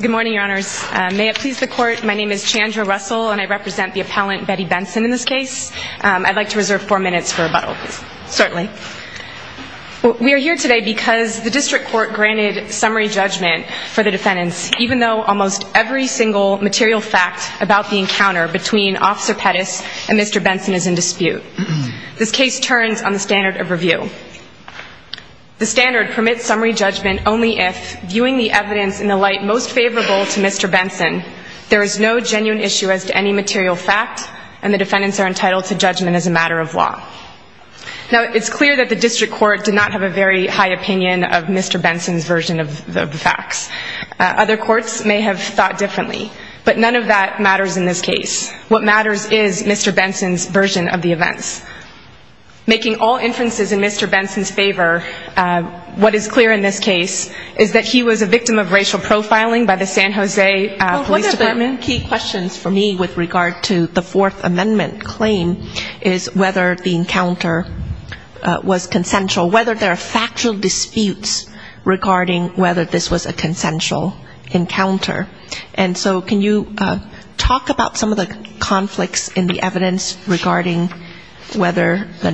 Good morning, your honors. May it please the court, my name is Chandra Russell and I represent the appellant Betty Benson in this case. I'd like to reserve four minutes for rebuttal, certainly. We are here today because the district court granted summary judgment for the defendants even though almost every single material fact about the encounter between Officer Pettis and Mr. Benson is in dispute. This case turns on the standard of review. The standard permits summary judgment only if, viewing the evidence in the light most favorable to Mr. Benson, there is no genuine issue as to any material fact and the defendants are entitled to judgment as a matter of law. Now it's clear that the district court did not have a very high opinion of Mr. Benson's version of the facts. Other courts may have thought differently, but none of that matters in this case. What matters is Mr. Benson's version of the events. Making all clear in this case is that he was a victim of racial profiling by the San Jose Police Department. One of the key questions for me with regard to the Fourth Amendment claim is whether the encounter was consensual, whether there are factual disputes regarding whether this was a consensual encounter. And so can you talk about some of the conflicts in the evidence regarding whether the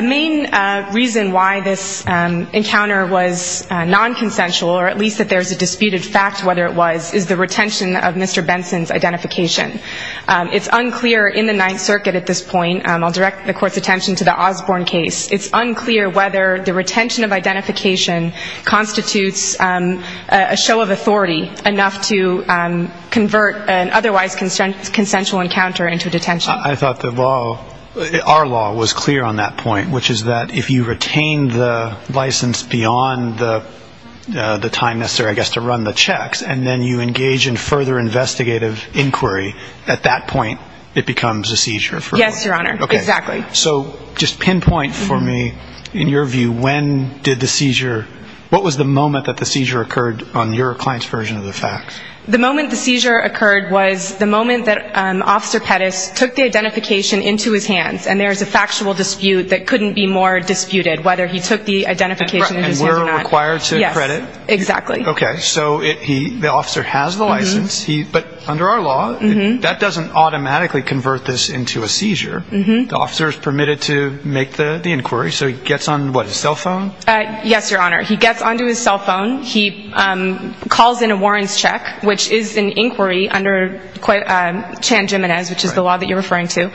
main reason why this encounter was non-consensual, or at least that there's a disputed fact whether it was, is the retention of Mr. Benson's identification. It's unclear in the Ninth Circuit at this point, I'll direct the court's attention to the Osborne case, it's unclear whether the retention of identification constitutes a show of authority enough to convert an otherwise consensual encounter into detention. I thought the law, our law, was clear on that point, which is that if you retain the license beyond the time necessary, I guess, to run the checks, and then you engage in further investigative inquiry, at that point it becomes a seizure. Yes, Your Honor, exactly. So just pinpoint for me, in your view, when did the seizure, what was the moment that the seizure occurred on your client's version of the facts? The moment the seizure occurred was the moment that Officer Pettis took the identification into his hands, and there is a factual dispute that couldn't be more disputed, whether he took the identification in his hands or not. And we're required to credit? Yes, exactly. Okay, so the officer has the license, but under our law, that doesn't automatically convert this into a seizure. The officer is permitted to make the inquiry, so he gets on, what, his cell phone? Yes, Your Honor, he gets onto his cell phone, he calls in a warrants check, which is an inquiry under Chan Jimenez, which is the law that you're referring to.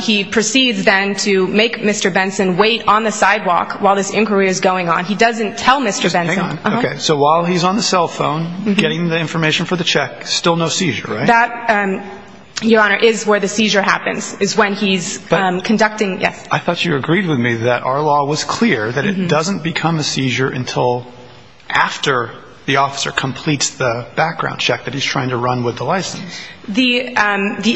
He proceeds then to make Mr. Benson wait on the sidewalk while this inquiry is going on. He doesn't tell Mr. Benson. Okay, so while he's on the cell phone, getting the information for the check, still no seizure, right? That, Your Honor, is where the seizure happens, is when he's conducting, yes. I thought you agreed with me that our law was clear that it doesn't become a seizure until after the officer completes the background check that he's trying to run with the license. The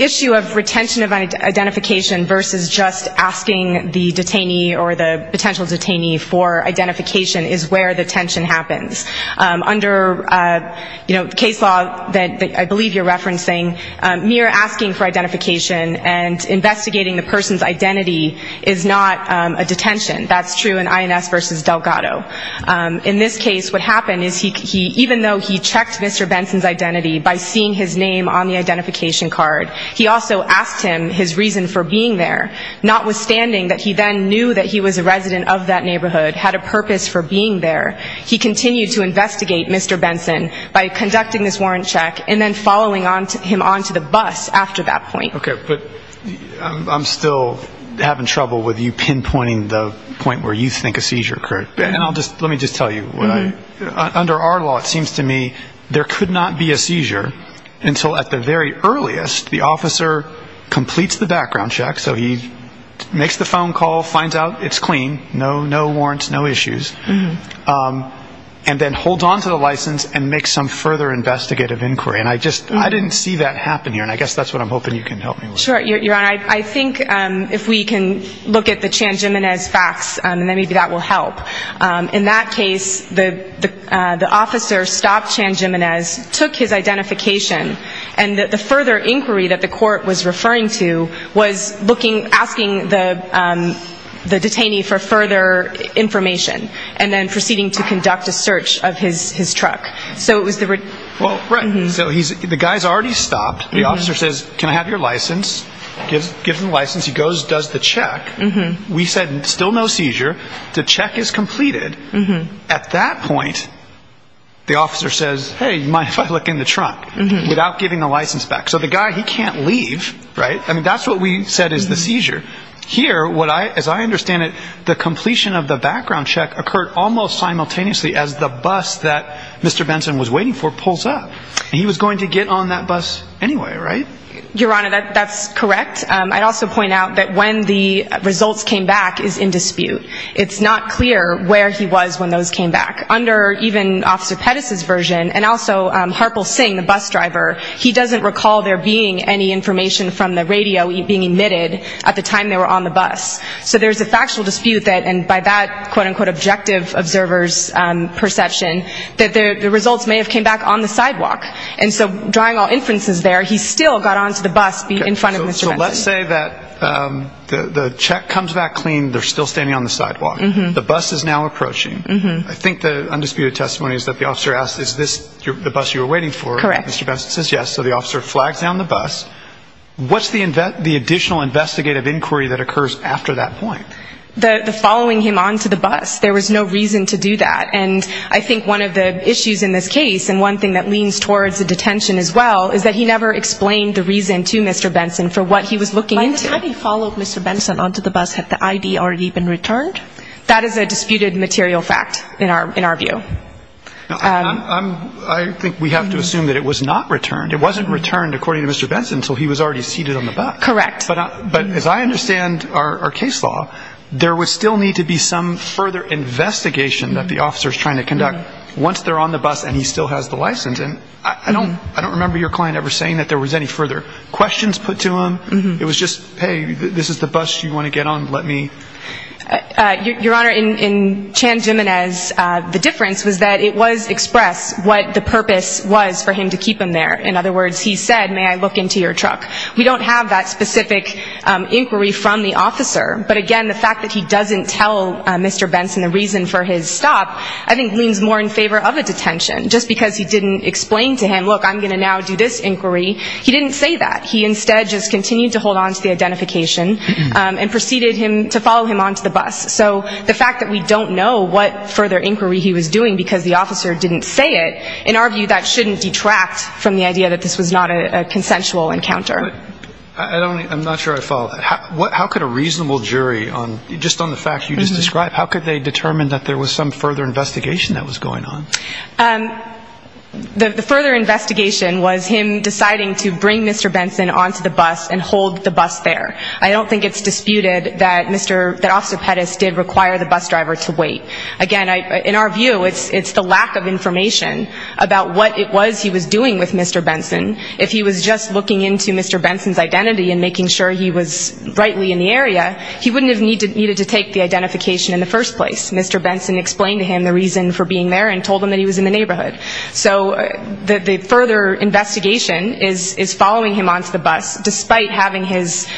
issue of retention of identification versus just asking the detainee or the potential detainee for identification is where the tension happens. Under, you know, case law that I believe you're referencing, mere asking for identification and investigating the person's identity is not a detention. That's true in INS versus Delgado. In this case, what happened is he, even though he checked Mr. Benson's identity by seeing his name on the identification card, he also asked him his reason for being there, not withstanding that he then knew that he was a resident of that neighborhood, had a purpose for being there. He continued to investigate Mr. Benson by conducting this warrants check and then following him onto the bus after that point. Okay, but I'm still having trouble with you pinpointing the point where you think a seizure occurred. And let me just tell you, under our law, it seems to me, there could not be a seizure until at the very earliest the officer completes the background check, so he makes the phone call, finds out it's clean, no warrants, no issues, and then holds on to the license and makes some further investigative inquiry. And I didn't see that happen here. And I guess that's what I'm hoping you can help me with. Sure, Your Honor. I think if we can look at the Chan-Gimenez facts, and then maybe that will help. In that case, the officer stopped Chan-Gimenez, took his identification, and the further inquiry that the court was referring to was looking, asking the detainee for further information, and then proceeding to conduct a search of his truck. So it says, can I have your license? Gives him the license. He goes, does the check. We said still no seizure. The check is completed. At that point, the officer says, hey, you mind if I look in the truck? Without giving the license back. So the guy, he can't leave, right? I mean, that's what we said is the seizure. Here, what I, as I understand it, the completion of the background check occurred almost simultaneously as the bus that Mr. Benson was waiting for pulls up. He was going to get on that bus anyway, right? Your Honor, that's correct. I'd also point out that when the results came back is in dispute. It's not clear where he was when those came back. Under even Officer Pettis' version, and also Harpal Singh, the bus driver, he doesn't recall there being any information from the radio being emitted at the time they were on the bus. So there's a factual dispute that, and by that, quote-unquote, objective observer's perception, that the drawing all inferences there, he still got onto the bus in front of Mr. Benson. So let's say that the check comes back clean. They're still standing on the sidewalk. The bus is now approaching. I think the undisputed testimony is that the officer asked, is this the bus you were waiting for? Correct. Mr. Benson says yes. So the officer flags down the bus. What's the additional investigative inquiry that occurs after that point? The following him onto the bus. There was no reason to do that. And I think one of the issues in this case, and one thing that leans towards the detention as well, is that he never explained the reason to Mr. Benson for what he was looking into. By the time he followed Mr. Benson onto the bus, had the ID already been returned? That is a disputed material fact in our view. I think we have to assume that it was not returned. It wasn't returned, according to Mr. Benson, until he was already seated on the bus. Correct. But as I understand our case law, there would still need to be some further investigation that the officer is trying to conduct once they're on the bus and he still has the license. And I don't I don't remember your client ever saying that there was any further questions put to him. It was just, hey, this is the bus you want to get on, let me... Your Honor, in Chan Jimenez, the difference was that it was expressed what the purpose was for him to keep him there. In other words, he said, may I look into your truck? We don't have that specific inquiry from the officer. But again, the fact that he leans more in favor of a detention just because he didn't explain to him, look, I'm going to now do this inquiry. He didn't say that. He instead just continued to hold on to the identification and proceeded him to follow him onto the bus. So the fact that we don't know what further inquiry he was doing because the officer didn't say it, in our view, that shouldn't detract from the idea that this was not a consensual encounter. I'm not sure I follow. How could a reasonable jury on just on the fact you just described, how could they determine that there was some further investigation that was going on? The further investigation was him deciding to bring Mr. Benson onto the bus and hold the bus there. I don't think it's disputed that Mr., that Officer Pettis did require the bus driver to wait. Again, in our view, it's the lack of information about what it was he was doing with Mr. Benson. If he was just looking into Mr. Benson's identity and making sure he was rightly in the area, he wouldn't have needed to take the identification in the first place. Mr. Benson explained to him the reason for being there and told him that he was in the neighborhood. So the further investigation is following him onto the bus, despite having his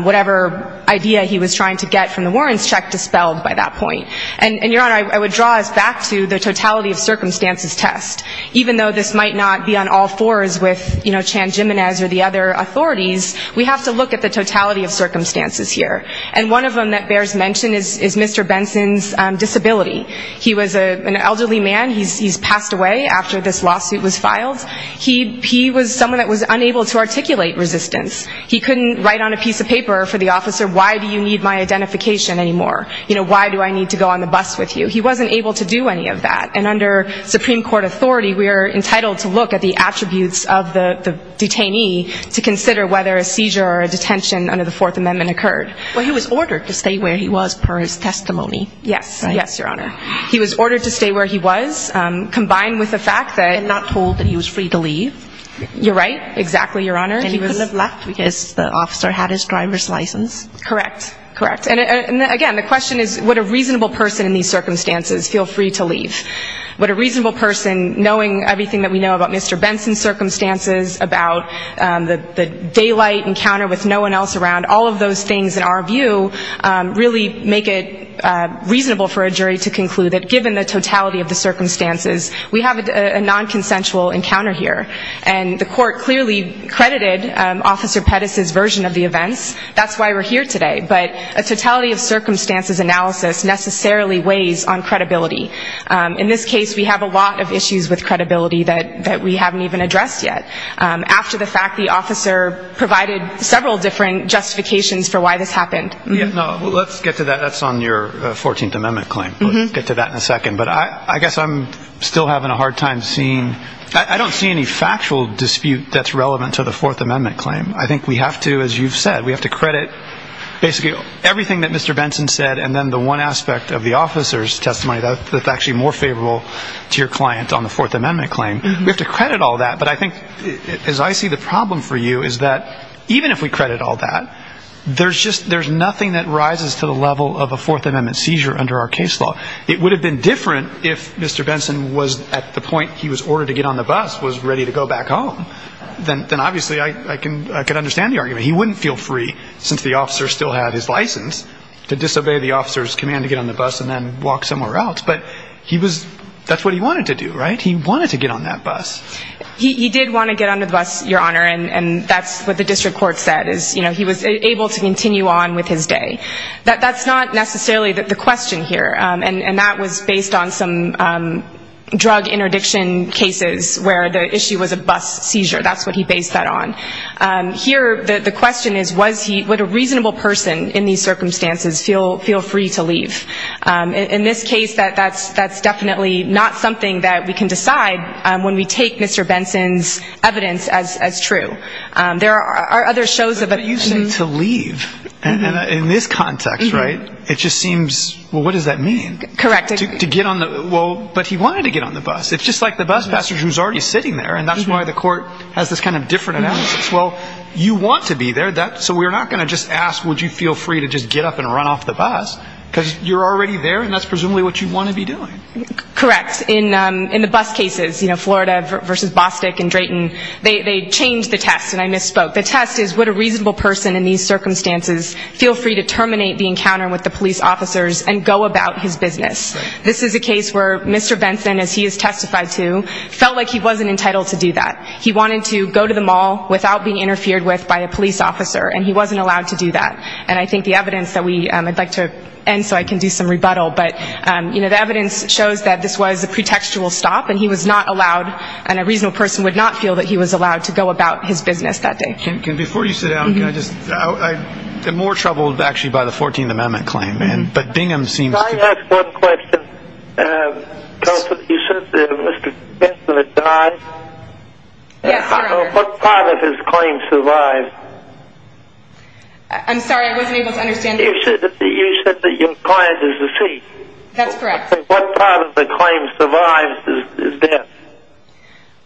whatever idea he was trying to get from the warrants check dispelled by that point. And, Your Honor, I would draw us back to the totality of circumstances test. Even though this might not be on all fours with Chan Jimenez or the other authorities, we have to look at the totality of circumstances here. And one of them that bears mention is Mr. Benson's disability. He was an elderly man. He's passed away after this lawsuit was filed. He was someone that was unable to articulate resistance. He couldn't write on a piece of paper for the officer, why do you need my identification anymore? You know, why do I need to go on the bus with you? He wasn't able to do any of that. And under Supreme Court authority, we are entitled to look at the attributes of the detainee to consider whether a seizure or a detention under the Fourth Amendment occurred. Well, he was ordered to stay where he was per his testimony. Yes. Yes, Your Honor. He was ordered to stay where he was, combined with the fact that... And not told that he was free to leave. You're right. Exactly, Your Honor. And he couldn't have left because the officer had his driver's license. Correct. Correct. And again, the question is, would a reasonable person in these circumstances feel free to leave? Would a reasonable person, knowing everything that we know about Mr. Benson's circumstances, about the daylight encounter with no one else around, all of those things, in our view, really make it reasonable for a jury to conclude that given the totality of the circumstances, we have a nonconsensual encounter here. And the court clearly credited Officer Pettis' version of the events. That's why we're here today. But a totality of circumstances analysis necessarily weighs on credibility. In this case, we have a lot of issues with credibility that we haven't even discussed yet. After the fact, the officer provided several different justifications for why this happened. Yes. No. Let's get to that. That's on your 14th Amendment claim. We'll get to that in a second. But I guess I'm still having a hard time seeing... I don't see any factual dispute that's relevant to the Fourth Amendment claim. I think we have to, as you've said, we have to credit basically everything that Mr. Benson said and then the one aspect of the officer's testimony that's actually more favorable to your client on the Fourth Amendment claim. We have to credit... As I see the problem for you is that even if we credit all that, there's just... There's nothing that rises to the level of a Fourth Amendment seizure under our case law. It would have been different if Mr. Benson was at the point he was ordered to get on the bus, was ready to go back home. Then obviously I can understand the argument. He wouldn't feel free, since the officer still had his license, to disobey the officer's command to get on the bus and then walk somewhere else. But he was... That's what he wanted to do, right? He wanted to get on that bus. He did want to get on the bus, Your Honor, and that's what the district court said, is he was able to continue on with his day. That's not necessarily the question here, and that was based on some drug interdiction cases where the issue was a bus seizure. That's what he based that on. Here, the question is, was he... Would a reasonable person in these circumstances feel free to leave? In this case, that's definitely not something that we can decide when we take Mr. Benson's evidence as true. There are other shows of... But you say to leave, in this context, right? It just seems... Well, what does that mean? Correct. To get on the... Well, but he wanted to get on the bus. It's just like the bus passenger who's already sitting there, and that's why the court has this kind of different analysis. Well, you want to be there, so we're not going to just ask, would you feel free to just get up and run off the bus? Because you're already there, and that's presumably what you want to be doing. Correct. In the bus cases, Florida versus Bostick and Drayton, they changed the test, and I misspoke. The test is, would a reasonable person in these circumstances feel free to terminate the encounter with the police officers and go about his business? This is a case where Mr. Benson, as he has testified to, felt like he wasn't entitled to do that. He wanted to go to the mall without being interfered with by a police officer, and he wasn't allowed to do that. And I think the evidence that we... I'd like to end so I can do some rebuttal, but the evidence shows that this was a pretextual stop, and he was not allowed, and a reasonable person would not feel that he was allowed to go about his business that day. Kim, before you sit down, can I just... I'm more troubled, actually, by the 14th Amendment claim, and... But Bingham seems to... Can I ask one question, counsel? You said that Mr. Benson had died. Yes, Your Honor. What part of his claim survived? I'm sorry, I wasn't able to understand. You said that your client is a thief. That's correct. What part of the claim survives his death?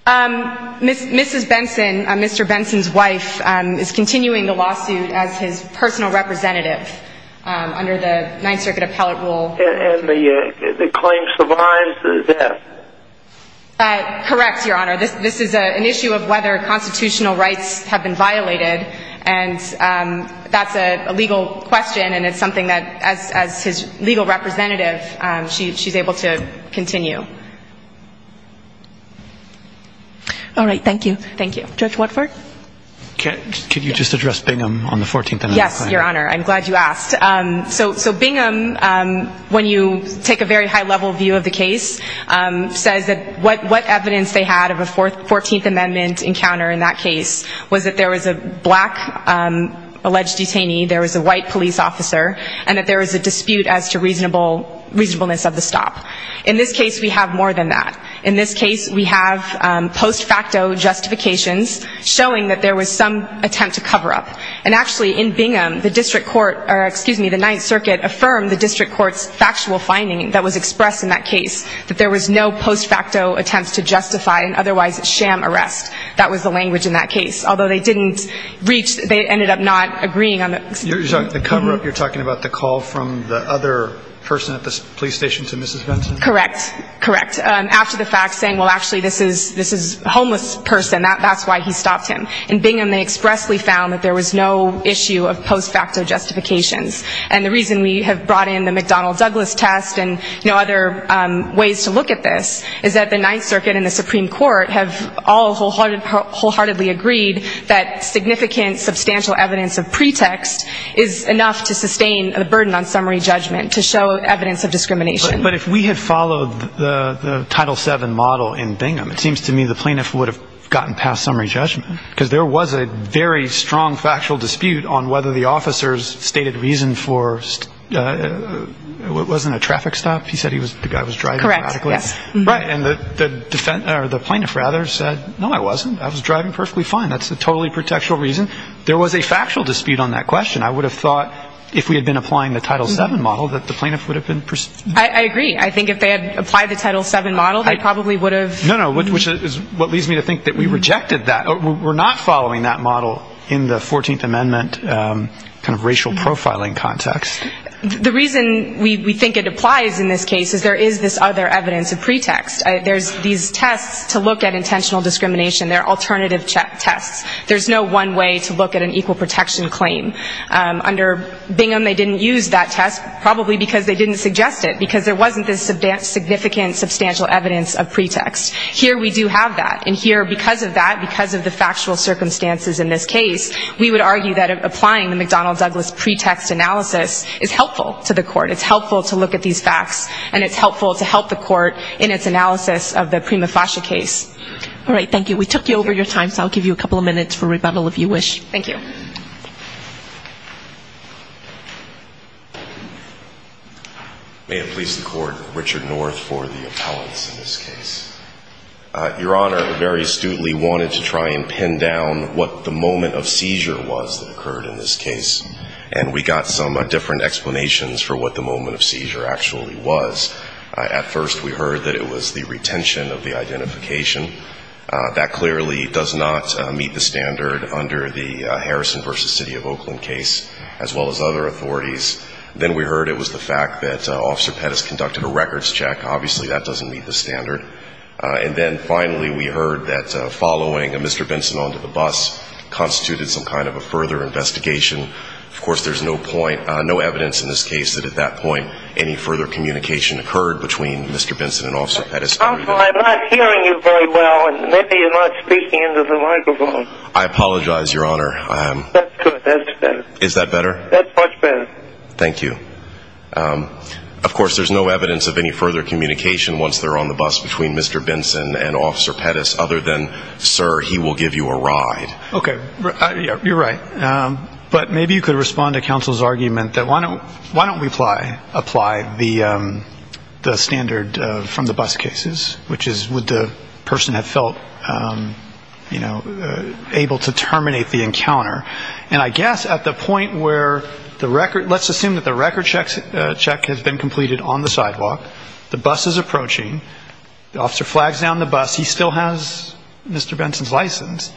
Mrs. Benson, Mr. Benson's wife, is continuing the lawsuit as his personal representative under the Ninth Circuit appellate rule. And the claim survives his death? Correct, Your Honor. This is an issue of whether constitutional rights have been violated, and that's a legal question, and it's something that, as his legal representative, she's able to continue. All right, thank you. Thank you. Judge Watford? Can you just address Bingham on the 14th Amendment claim? Yes, Your Honor. I'm glad you asked. So Bingham, when you take a very high level view of the case, says that what evidence they had of a 14th Amendment encounter in that case was that there was a black alleged detainee, there was a white police officer, and that there was a dispute as to reasonableness of the stop. In this case, we have more than that. In this case, we have post-facto justifications showing that there was some attempt to cover up. And actually, in Bingham, the district court, or excuse me, the Ninth Circuit affirmed the district court's factual finding that was expressed in that case, that there was no post-facto attempts to justify an otherwise sham arrest. That was the language in that case. Although they didn't reach, they ended up not agreeing on the... You're talking about the cover-up, you're talking about the call from the other person at the police station to Mrs. Benson? Correct. Correct. After the fact, saying, well, actually, this is a homeless person, that's why he stopped him. In Bingham, they expressly found that there was no issue of post- facto justifications. And the reason we have brought in the McDonnell Douglas test and other ways to look at this is that the Ninth Circuit and the Supreme Court have all wholeheartedly agreed that significant, substantial evidence of pretext is enough to sustain the burden on summary judgment, to show evidence of discrimination. But if we had followed the Title VII model in Bingham, it seems to me the plaintiff would have gotten past summary judgment. Because there was a very strong factual dispute on whether the officers stated reason for... It wasn't a traffic stop? He said the guy was driving erratically? Correct. Yes. Right. And the plaintiff rather said, no, I wasn't. I was driving perfectly fine. That's a totally pretextual reason. There was a factual dispute on that question. I would have thought if we had been applying the Title VII model that the plaintiff would have been... I agree. I think if they had applied the Title VII model, they probably would have... No, no. Which is what leads me to think that we rejected that. We're not following that model in the 14th Amendment kind of racial profiling context. The reason we think it applies in this case is there is this other evidence of pretext. There's these tests to look at intentional discrimination. There are alternative tests. There's no one way to look at an equal protection claim. Under Bingham, they didn't use that test probably because they didn't suggest it. Because there wasn't this significant substantial evidence of pretext. Here we do have that. And here, because of that, because of the factual circumstances in this case, we would argue that applying the McDonnell Douglas pretext analysis is helpful to the court. It's helpful to look at these facts. And it's helpful to help the court in its analysis of the Prima Fascia case. All right. Thank you. We took you over your time. So I'll give you a couple of minutes for rebuttal if you wish. Thank you. May it please the Court, Richard North for the appellants in this case. Your Honor, I very astutely wanted to try and pin down what the moment of seizure was that occurred in this case. And we got some different explanations for what the moment of seizure actually was. At first, we heard that there was a retention of the identification. That clearly does not meet the standard under the Harrison v. City of Oakland case, as well as other authorities. Then we heard it was the fact that Officer Pettis conducted a records check. Obviously, that doesn't meet the standard. And then finally, we heard that following Mr. Benson onto the bus constituted some kind of a further investigation. Of course, there's no point, no evidence in this case that at that point, any further communication occurred between Mr. Benson and Officer Pettis. Counsel, I'm not hearing you very well. Maybe you're not speaking into the microphone. I apologize, Your Honor. That's good. That's better. Is that better? That's much better. Thank you. Of course, there's no evidence of any further communication once they're on the bus between Mr. Benson and Officer Pettis, other than, sir, he will give you a ride. Okay. You're right. But maybe you could respond to counsel's argument that why don't we apply the standard from the bus cases, which is would the person have felt, you know, able to terminate the encounter. And I guess at the point where the record, let's assume that the records check has been completed on the sidewalk, the bus is approaching, the officer flags down the bus, he still has Mr. Benson's license.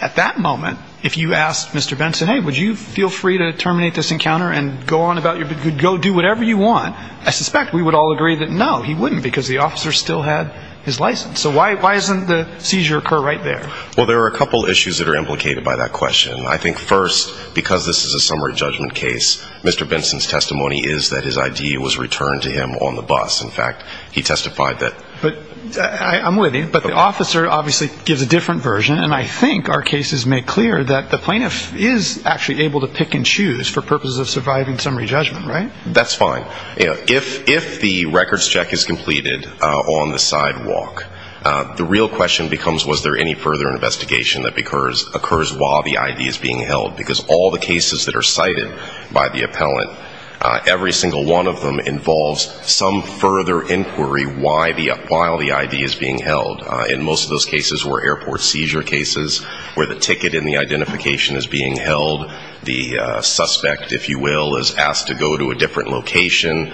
At that moment, if you asked Mr. Benson, hey, would you feel free to terminate this encounter and go on about your business, go do whatever you want, I suspect we would all agree that no, he wouldn't, because the officer still had his license. So why doesn't the seizure occur right there? Well, there are a couple issues that are implicated by that question. I think first, because this is a summary judgment case, Mr. Benson's testimony is that his ID was returned to him on the bus. In fact, he testified that... But I'm with you. But the officer obviously gives a different version. And I think our cases make clear that the plaintiff is actually able to pick and choose for purposes of surviving summary judgment, right? That's fine. If the records check is completed on the sidewalk, the real question becomes was there any further investigation that occurs while the ID is being held, because all the cases that are cited by the appellant, every single one of them involves some further inquiry while the ID is being held. In most of those cases were airport seizure cases where the ticket and the identification is being held. The suspect, if you will, is asked to go to a different location.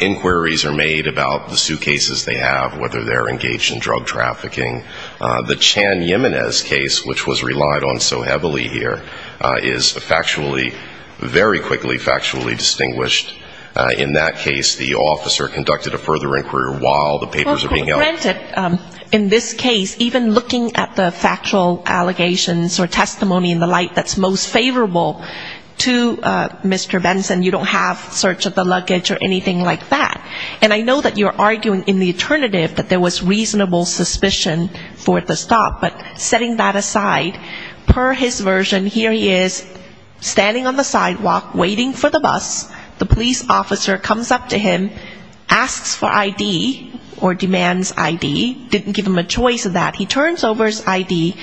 Inquiries are made about the suitcases they have, whether they're engaged in drug trafficking. The Chan-Yemenes case, which was relied on so heavily here, is factually, very quickly factually distinguished. In that case, the officer conducted a further inquiry while the papers are being held. Well, granted, in this case, even looking at the factual allegations or testimony and the like that's most favorable to Mr. Benson, you don't have search of the luggage or anything like that. And I know that you're arguing in the alternative that there was reasonable suspicion for the stop. But setting that aside, per his version, here he is standing on the sidewalk, waiting for the bus. The police officer comes up to him, asks for ID or demands ID, didn't give him a choice of that. He turns over his ID,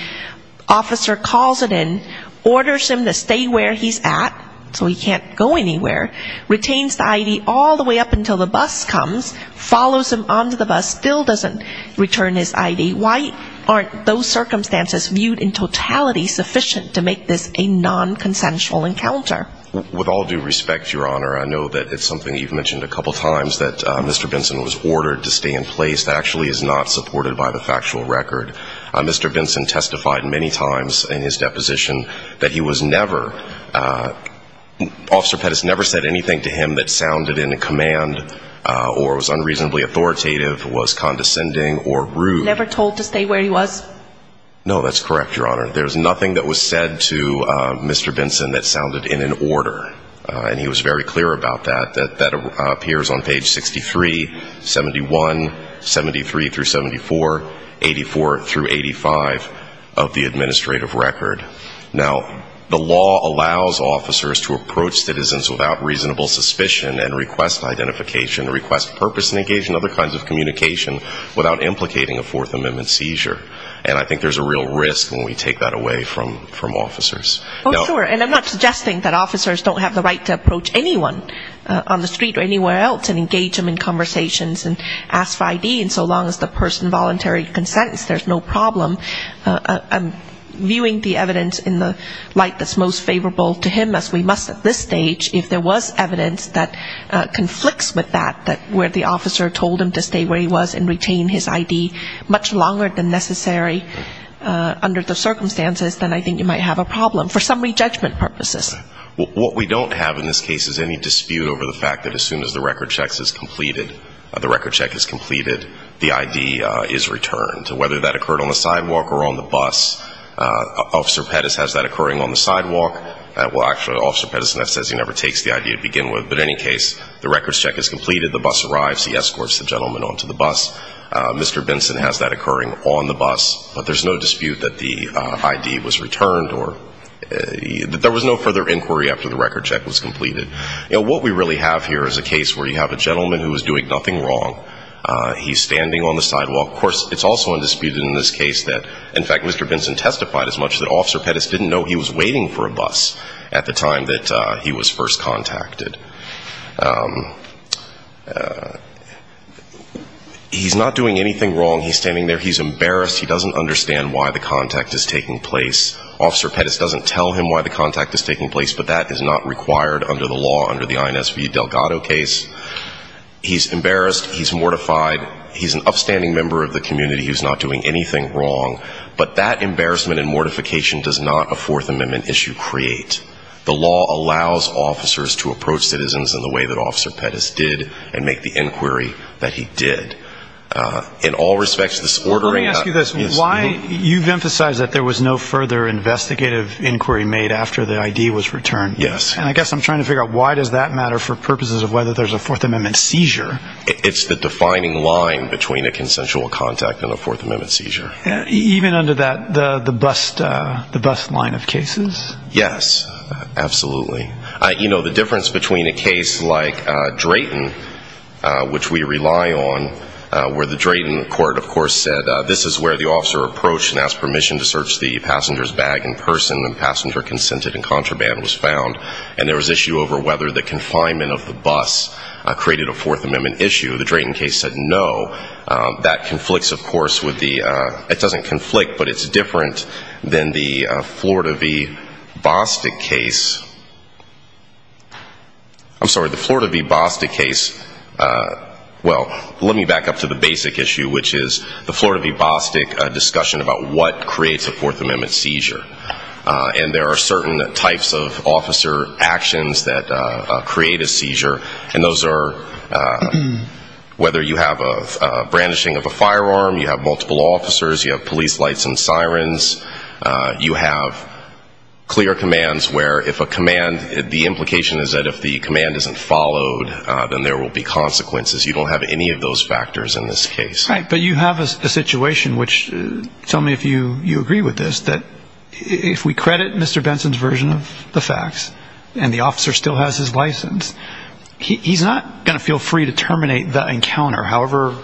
officer calls it in, orders him to stay where he's at so he can't go anywhere, retains the ID all the way up until the bus comes, follows him onto the bus, still doesn't return his ID. Why aren't those circumstances viewed in totality sufficient to make this a nonconsensual encounter? With all due respect, Your Honor, I know that it's something you've mentioned a couple times, that Mr. Benson was ordered to stay in place that actually is not supported by the factual record. Mr. Benson testified many times in his deposition that he was never, Officer Pettis never said anything to him that sounded in command or was unreasonably authoritative, was condescending or rude. Never told to stay where he was? No, that's correct, Your Honor. There's nothing that was said to Mr. Benson in order. And he was very clear about that. That appears on page 63, 71, 73 through 74, 84 through 85 of the administrative record. Now, the law allows officers to approach citizens without reasonable suspicion and request identification, request purpose negation, other kinds of communication without implicating a Fourth Amendment seizure. And I think there's a real risk when we take that away from officers. Oh, sure. And I'm not suggesting that officers don't have the right to approach anyone on the street or anywhere else and engage them in conversations and ask for ID. And so long as the person voluntarily consents, there's no problem. I'm viewing the evidence in the light that's most favorable to him, as we must at this stage. If there was evidence that conflicts with that, where the officer told him to stay where he was and retain his ID much longer than necessary under the law, there's no problem for summary judgment purposes. What we don't have in this case is any dispute over the fact that as soon as the record check is completed, the ID is returned, whether that occurred on the sidewalk or on the bus. Officer Pettis has that occurring on the sidewalk. Well, actually, Officer Pettis says he never takes the ID to begin with. But in any case, the record check is completed. The bus arrives. He escorts the gentleman onto the bus. Mr. Benson has that occurring on the bus. But there's no dispute that the ID was returned or there was no further inquiry after the record check was completed. You know, what we really have here is a case where you have a gentleman who is doing nothing wrong. He's standing on the sidewalk. Of course, it's also undisputed in this case that, in fact, Mr. Benson testified as much that Officer Pettis didn't know he was waiting for a bus at the time that he was first contacted. He's not doing anything wrong. He's standing there. He's embarrassed. He doesn't understand why the contact is taking place. Officer Pettis doesn't tell him why the contact is taking place. But that is not required under the law, under the INSV Delgado case. He's embarrassed. He's mortified. He's an upstanding member of the community who's not doing anything wrong. But that embarrassment and mortification does not a Fourth Amendment issue create. The law allows officers to approach citizens in the way that Officer Pettis did and make the inquiry that he did. In all respects, this ordering... Let me ask you this. You've emphasized that there was no further investigative inquiry made after the ID was returned. Yes. And I guess I'm trying to figure out, why does that matter for purposes of whether there's a Fourth Amendment seizure? It's the defining line between a consensual contact and a Fourth Amendment seizure. Even under the bust line of cases? Yes, absolutely. The difference between a case like Drayton, which we rely on, where the Drayton court, of course, said, this is where the officer approached and asked permission to search the passenger's bag in person. The passenger consented and contraband was found. And there was issue over whether the confinement of the bus created a Fourth Amendment issue. The Drayton case said no. That conflicts, of course, with the... It doesn't conflict, but it's different than the Florida v. Bostic case. I'm sorry, the Florida v. Bostic case is... Well, let me back up to the basic issue, which is the Florida v. Bostic discussion about what creates a Fourth Amendment seizure. And there are certain types of officer actions that create a seizure. And those are whether you have a brandishing of a firearm, you have multiple officers, you have police lights and sirens, you have clear commands where if a command... The implication is that if the command isn't followed, then there will be consequences. You don't have any of those factors in this case. Right. But you have a situation which... Tell me if you agree with this, that if we credit Mr. Benson's version of the facts, and the officer still has his license, he's not going to feel free to terminate the encounter, however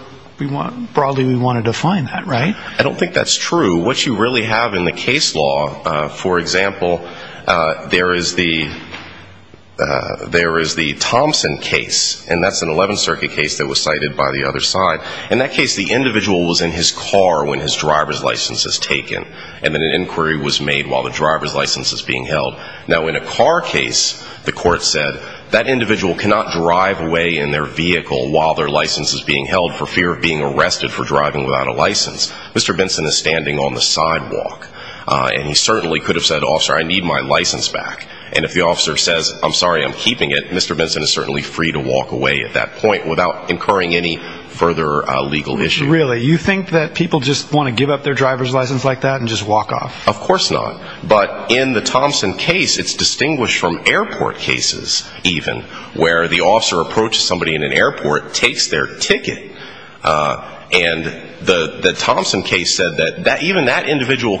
broadly we want to define that, right? I don't think that's true. What you really have in the case law, for example, there is the Thompson case. And that's an 11th Circuit case that was cited by the other side. In that case, the individual was in his car when his driver's license was taken. And then an inquiry was made while the driver's license was being held. Now, in a car case, the court said, that individual cannot drive away in their vehicle while their license is being held for fear of being arrested for driving without a license. Mr. Benson could have said, officer, I need my license back. And if the officer says, I'm sorry, I'm keeping it, Mr. Benson is certainly free to walk away at that point without incurring any further legal issue. Really? You think that people just want to give up their driver's license like that and just walk off? Of course not. But in the Thompson case, it's distinguished from airport cases, even, where the officer approaches somebody in an airport, takes their ticket, and the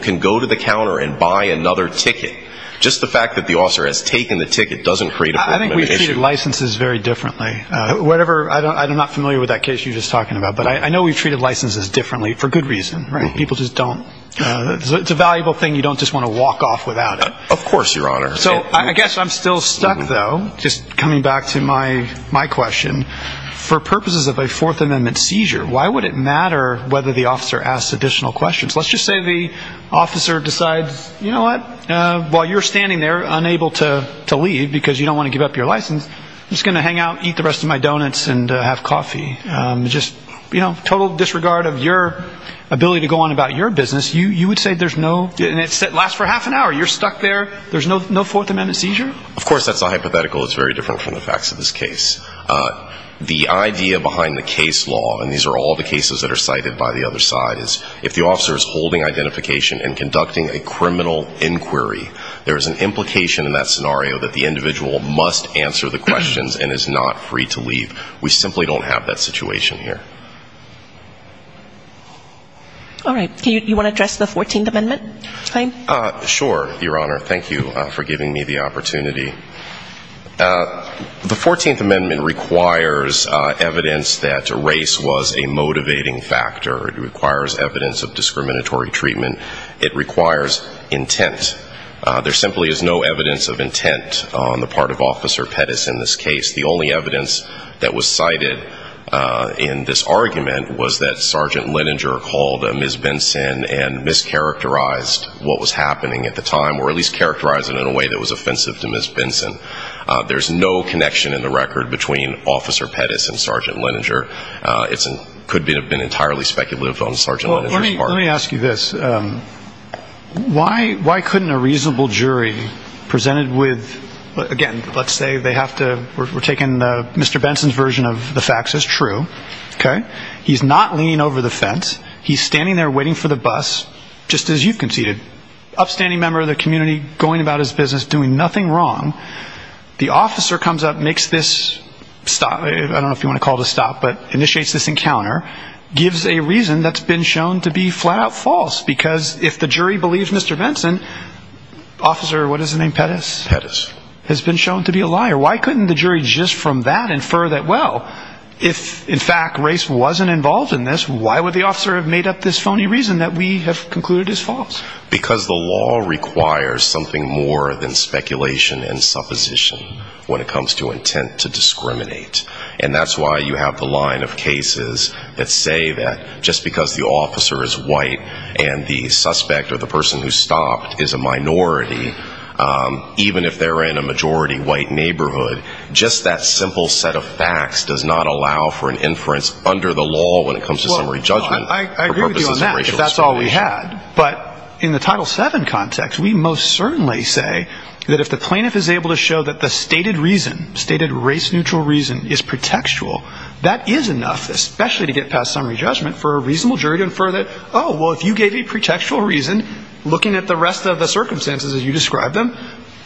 can go to the counter and buy another ticket. Just the fact that the officer has taken the ticket doesn't create a formal issue. I think we treat licenses very differently. Whatever, I'm not familiar with that case you were just talking about. But I know we've treated licenses differently for good reason. People just don't, it's a valuable thing. You don't just want to walk off without it. Of course, Your Honor. So, I guess I'm still stuck, though, just coming back to my question. For purposes of a Fourth Amendment seizure, why would it matter whether the officer asks additional questions? Let's just say the officer decides, you know what, while you're standing there, unable to leave because you don't want to give up your license, I'm just going to hang out, eat the rest of my donuts, and have coffee. Just, you know, total disregard of your ability to go on about your business. You would say there's no And it lasts for half an hour. You're stuck there. There's no Fourth Amendment seizure? Of course that's a hypothetical. It's very different from the facts of this case. The idea behind the case law, and these are all the cases that are cited by the other side, is if the officer is holding identification and conducting a criminal inquiry, there is an implication in that scenario that the individual must answer the questions and is not free to leave. We simply don't have that situation here. All right. Do you want to address the 14th Amendment, Clayton? Sure, Your Honor. Thank you for giving me the opportunity. The 14th Amendment requires evidence that race was a motivating factor. It requires evidence of discriminatory treatment. It requires intent. There simply is no evidence of intent on the part of Officer Pettis in this case. The only evidence that was cited in this argument was that Sergeant Leninger called Ms. Benson and mischaracterized what was happening at the time, or at least mischaracterized it in a way that was offensive to Ms. Benson. There is no connection in the record between Officer Pettis and Sergeant Leninger. It could have been entirely speculative on Sergeant Leninger's part. Well, let me ask you this. Why couldn't a reasonable jury presented with, again, let's say they have to, we're taking Mr. Benson's version of the facts as true, okay? He's not leaning over the fence. He's standing there waiting for the bus, just as you've conceded. Upstanding member of the community, going about his business, doing nothing wrong. The officer comes up, makes this stop, I don't know if you want to call it a stop, but initiates this encounter, gives a reason that's been shown to be flat-out false. Because if the jury believes Mr. Benson, Officer, what is his name, Pettis? Pettis. Has been shown to be a liar. Why couldn't the jury just from that infer that, well, if in fact race wasn't involved in this, why would the officer have made up this phony reason that we have concluded is because the law requires something more than speculation and supposition when it comes to intent to discriminate. And that's why you have the line of cases that say that just because the officer is white and the suspect or the person who stopped is a minority, even if they're in a majority white neighborhood, just that simple set of facts does not allow for an inference under the law when it comes to summary judgment. I agree with you on that, if that's all we had. But in the Title VII context, we most certainly say that if the plaintiff is able to show that the stated reason, stated race-neutral reason is pretextual, that is enough, especially to get past summary judgment for a reasonable jury to infer that, oh, well, if you gave a pretextual reason, looking at the rest of the circumstances as you described them,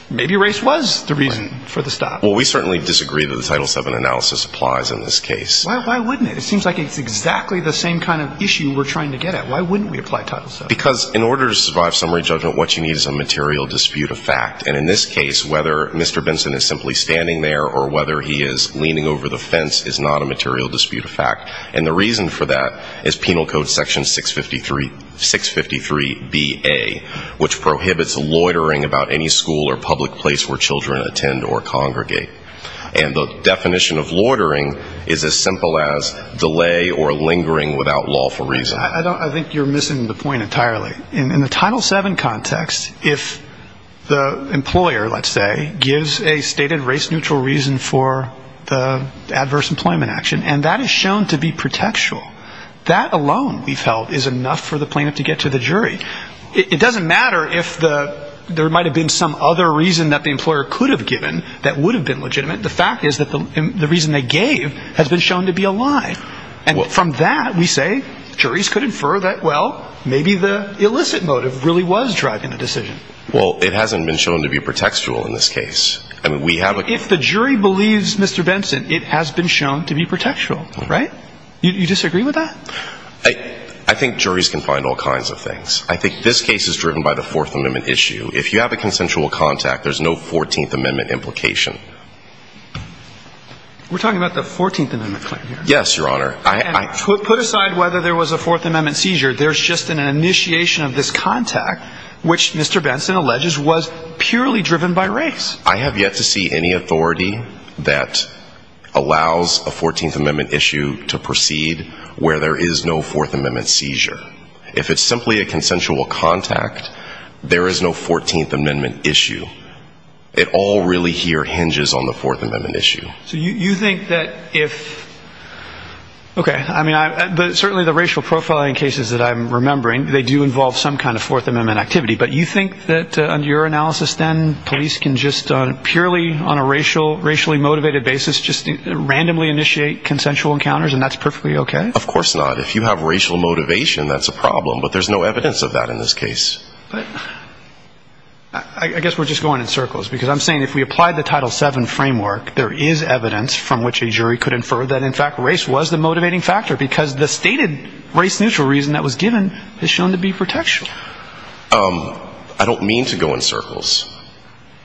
maybe race was the reason for the stop. Well, we certainly disagree that the Title VII analysis applies in this case. Why wouldn't it? It seems like it's exactly the same kind of issue we're trying to get at. Why wouldn't we apply Title VII? Because in order to survive summary judgment, what you need is a material dispute of fact. And in this case, whether Mr. Benson is simply standing there or whether he is leaning over the fence is not a material dispute of fact. And the reason for that is Penal Code Section 653-BA, which prohibits loitering about any school or public place where children attend or congregate. And the definition of loitering is as simple as delay or lingering without lawful reason. I think you're missing the point entirely. In the Title VII context, if the employer, let's say, gives a stated race-neutral reason for the adverse employment action, and that is shown to be pretextual, that alone, we've held, is enough for the plaintiff to get to the jury. It doesn't matter if there might have been some other reason that the employer could have given that would have been legitimate. The fact is that the reason they gave has been shown to be a lie. And from that, we say, juries could infer that, well, maybe the illicit motive really was driving the decision. Well, it hasn't been shown to be pretextual in this case. I mean, we have a – If the jury believes Mr. Benson, it has been shown to be pretextual, right? You disagree with that? I think juries can find all kinds of things. I think this case is driven by the Fourth Amendment issue. If you have a consensual contact, there's no Fourteenth Amendment implication. We're talking about the Fourteenth Amendment claim here. Yes, Your Honor. And put aside whether there was a Fourth Amendment seizure, there's just an initiation of this contact, which Mr. Benson alleges was purely driven by race. I have yet to see any authority that allows a Fourteenth Amendment issue to proceed where there is no Fourth Amendment seizure. If it's a Fourth Amendment issue, it all really here hinges on the Fourth Amendment issue. So you think that if – okay. I mean, certainly the racial profiling cases that I'm remembering, they do involve some kind of Fourth Amendment activity. But you think that, under your analysis then, police can just, purely on a racially motivated basis, just randomly initiate consensual encounters, and that's perfectly okay? Of course not. If you have racial motivation, that's a problem. But there's no evidence of that in this case. But I guess we're just going in circles. Because I'm saying if we applied the Title VII framework, there is evidence from which a jury could infer that, in fact, race was the motivating factor. Because the stated race-neutral reason that was given is shown to be protection. I don't mean to go in circles.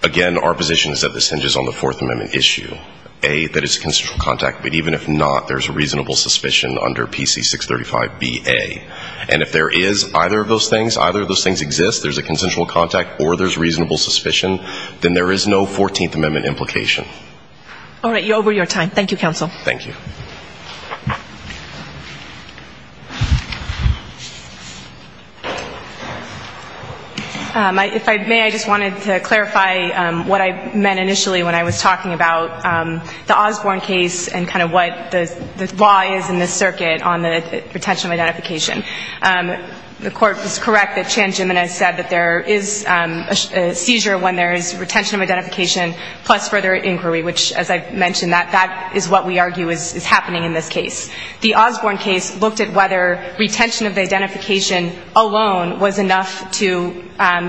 Again, our position is that this hinges on the Fourth Amendment issue, A, that it's a consensual contact. But even if not, there's a reasonable suspicion under PC 635bA. And if there is either of those things, either of those things exist, there's a consensual contact or there's reasonable suspicion, then there is no Fourteenth Amendment implication. All right. You're over your time. Thank you, counsel. Thank you. If I may, I just wanted to clarify what I meant initially when I was talking about the Osborne case and kind of what the law is in this circuit on the retention of identification. The court was correct that Chan Jimenez said that there is a seizure when there is retention of identification plus further inquiry, which, as I mentioned, that is what we argue is happening in this case. The Osborne case looked at whether retention of the identification alone was enough to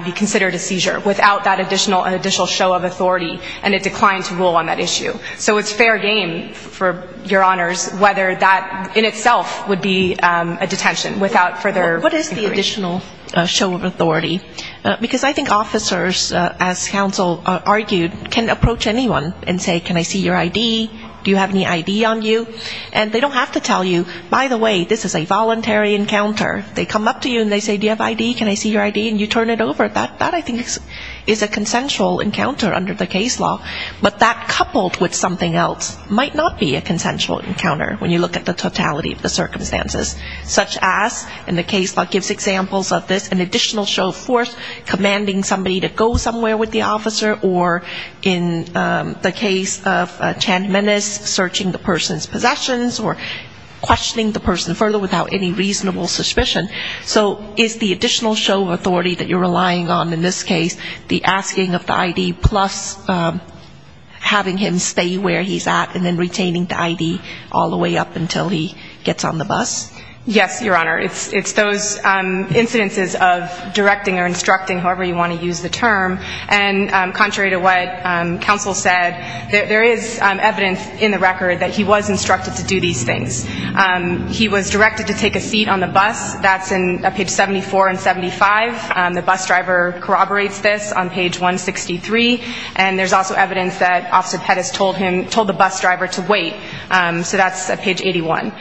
be considered a seizure without that additional show of authority, and it declined to rule on that issue. So it's fair game, for your honors, whether that in itself would be a detention without further inquiry. additional show of authority. Because I think officers, as counsel argued, can approach anyone and say, can I see your I.D.? Do you have any I.D. on you? And they don't have to tell you, by the way, this is a voluntary encounter. They come up to you and they say, do you have I.D.? Can I see your I.D.? And you turn it over. That, I think, is a consensual encounter under the case law. But that coupled with something else might not be a consensual encounter when you look at the totality of the circumstances, such as, in the case law gives examples of this, an additional show of force, commanding somebody to go somewhere with the officer, or in the case of a chant menace, searching the person's possessions or questioning the person further without any reasonable suspicion. So is the additional show of authority that you're relying on in this case the asking of the I.D. plus having him stay where he's at and then retaining the I.D. all the way up until he gets on the bus? Yes, Your Honor. It's those incidences of directing or instructing, however you want to use the term. And contrary to what counsel said, there is evidence in the record that he was instructed to do these things. He was directed to take a seat on the bus. That's in page 74 and 75. The bus driver corroborates this on page 163. And there's also evidence that Officer Pettis told the bus driver to wait. So that's page 81.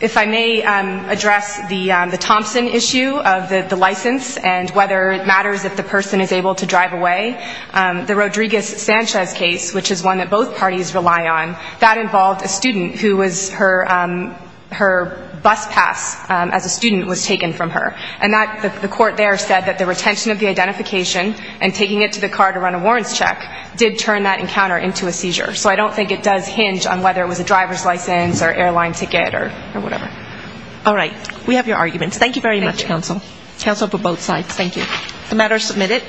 If I may address the Thompson issue of the license and whether it matters if the person is able to drive away, the Rodriguez-Sanchez case, which is one that both parties rely on, that involved a student who was her bus pass as a student was taken from her. And the court there said that the retention of the identification and taking it to the car to run a warrants check did turn that encounter into a seizure. So I don't think it does hinge on whether it was a driver's license or airline ticket or whatever. All right. We have your arguments. Thank you very much, counsel. Counsel for both sides. Thank you. The matter is submitted.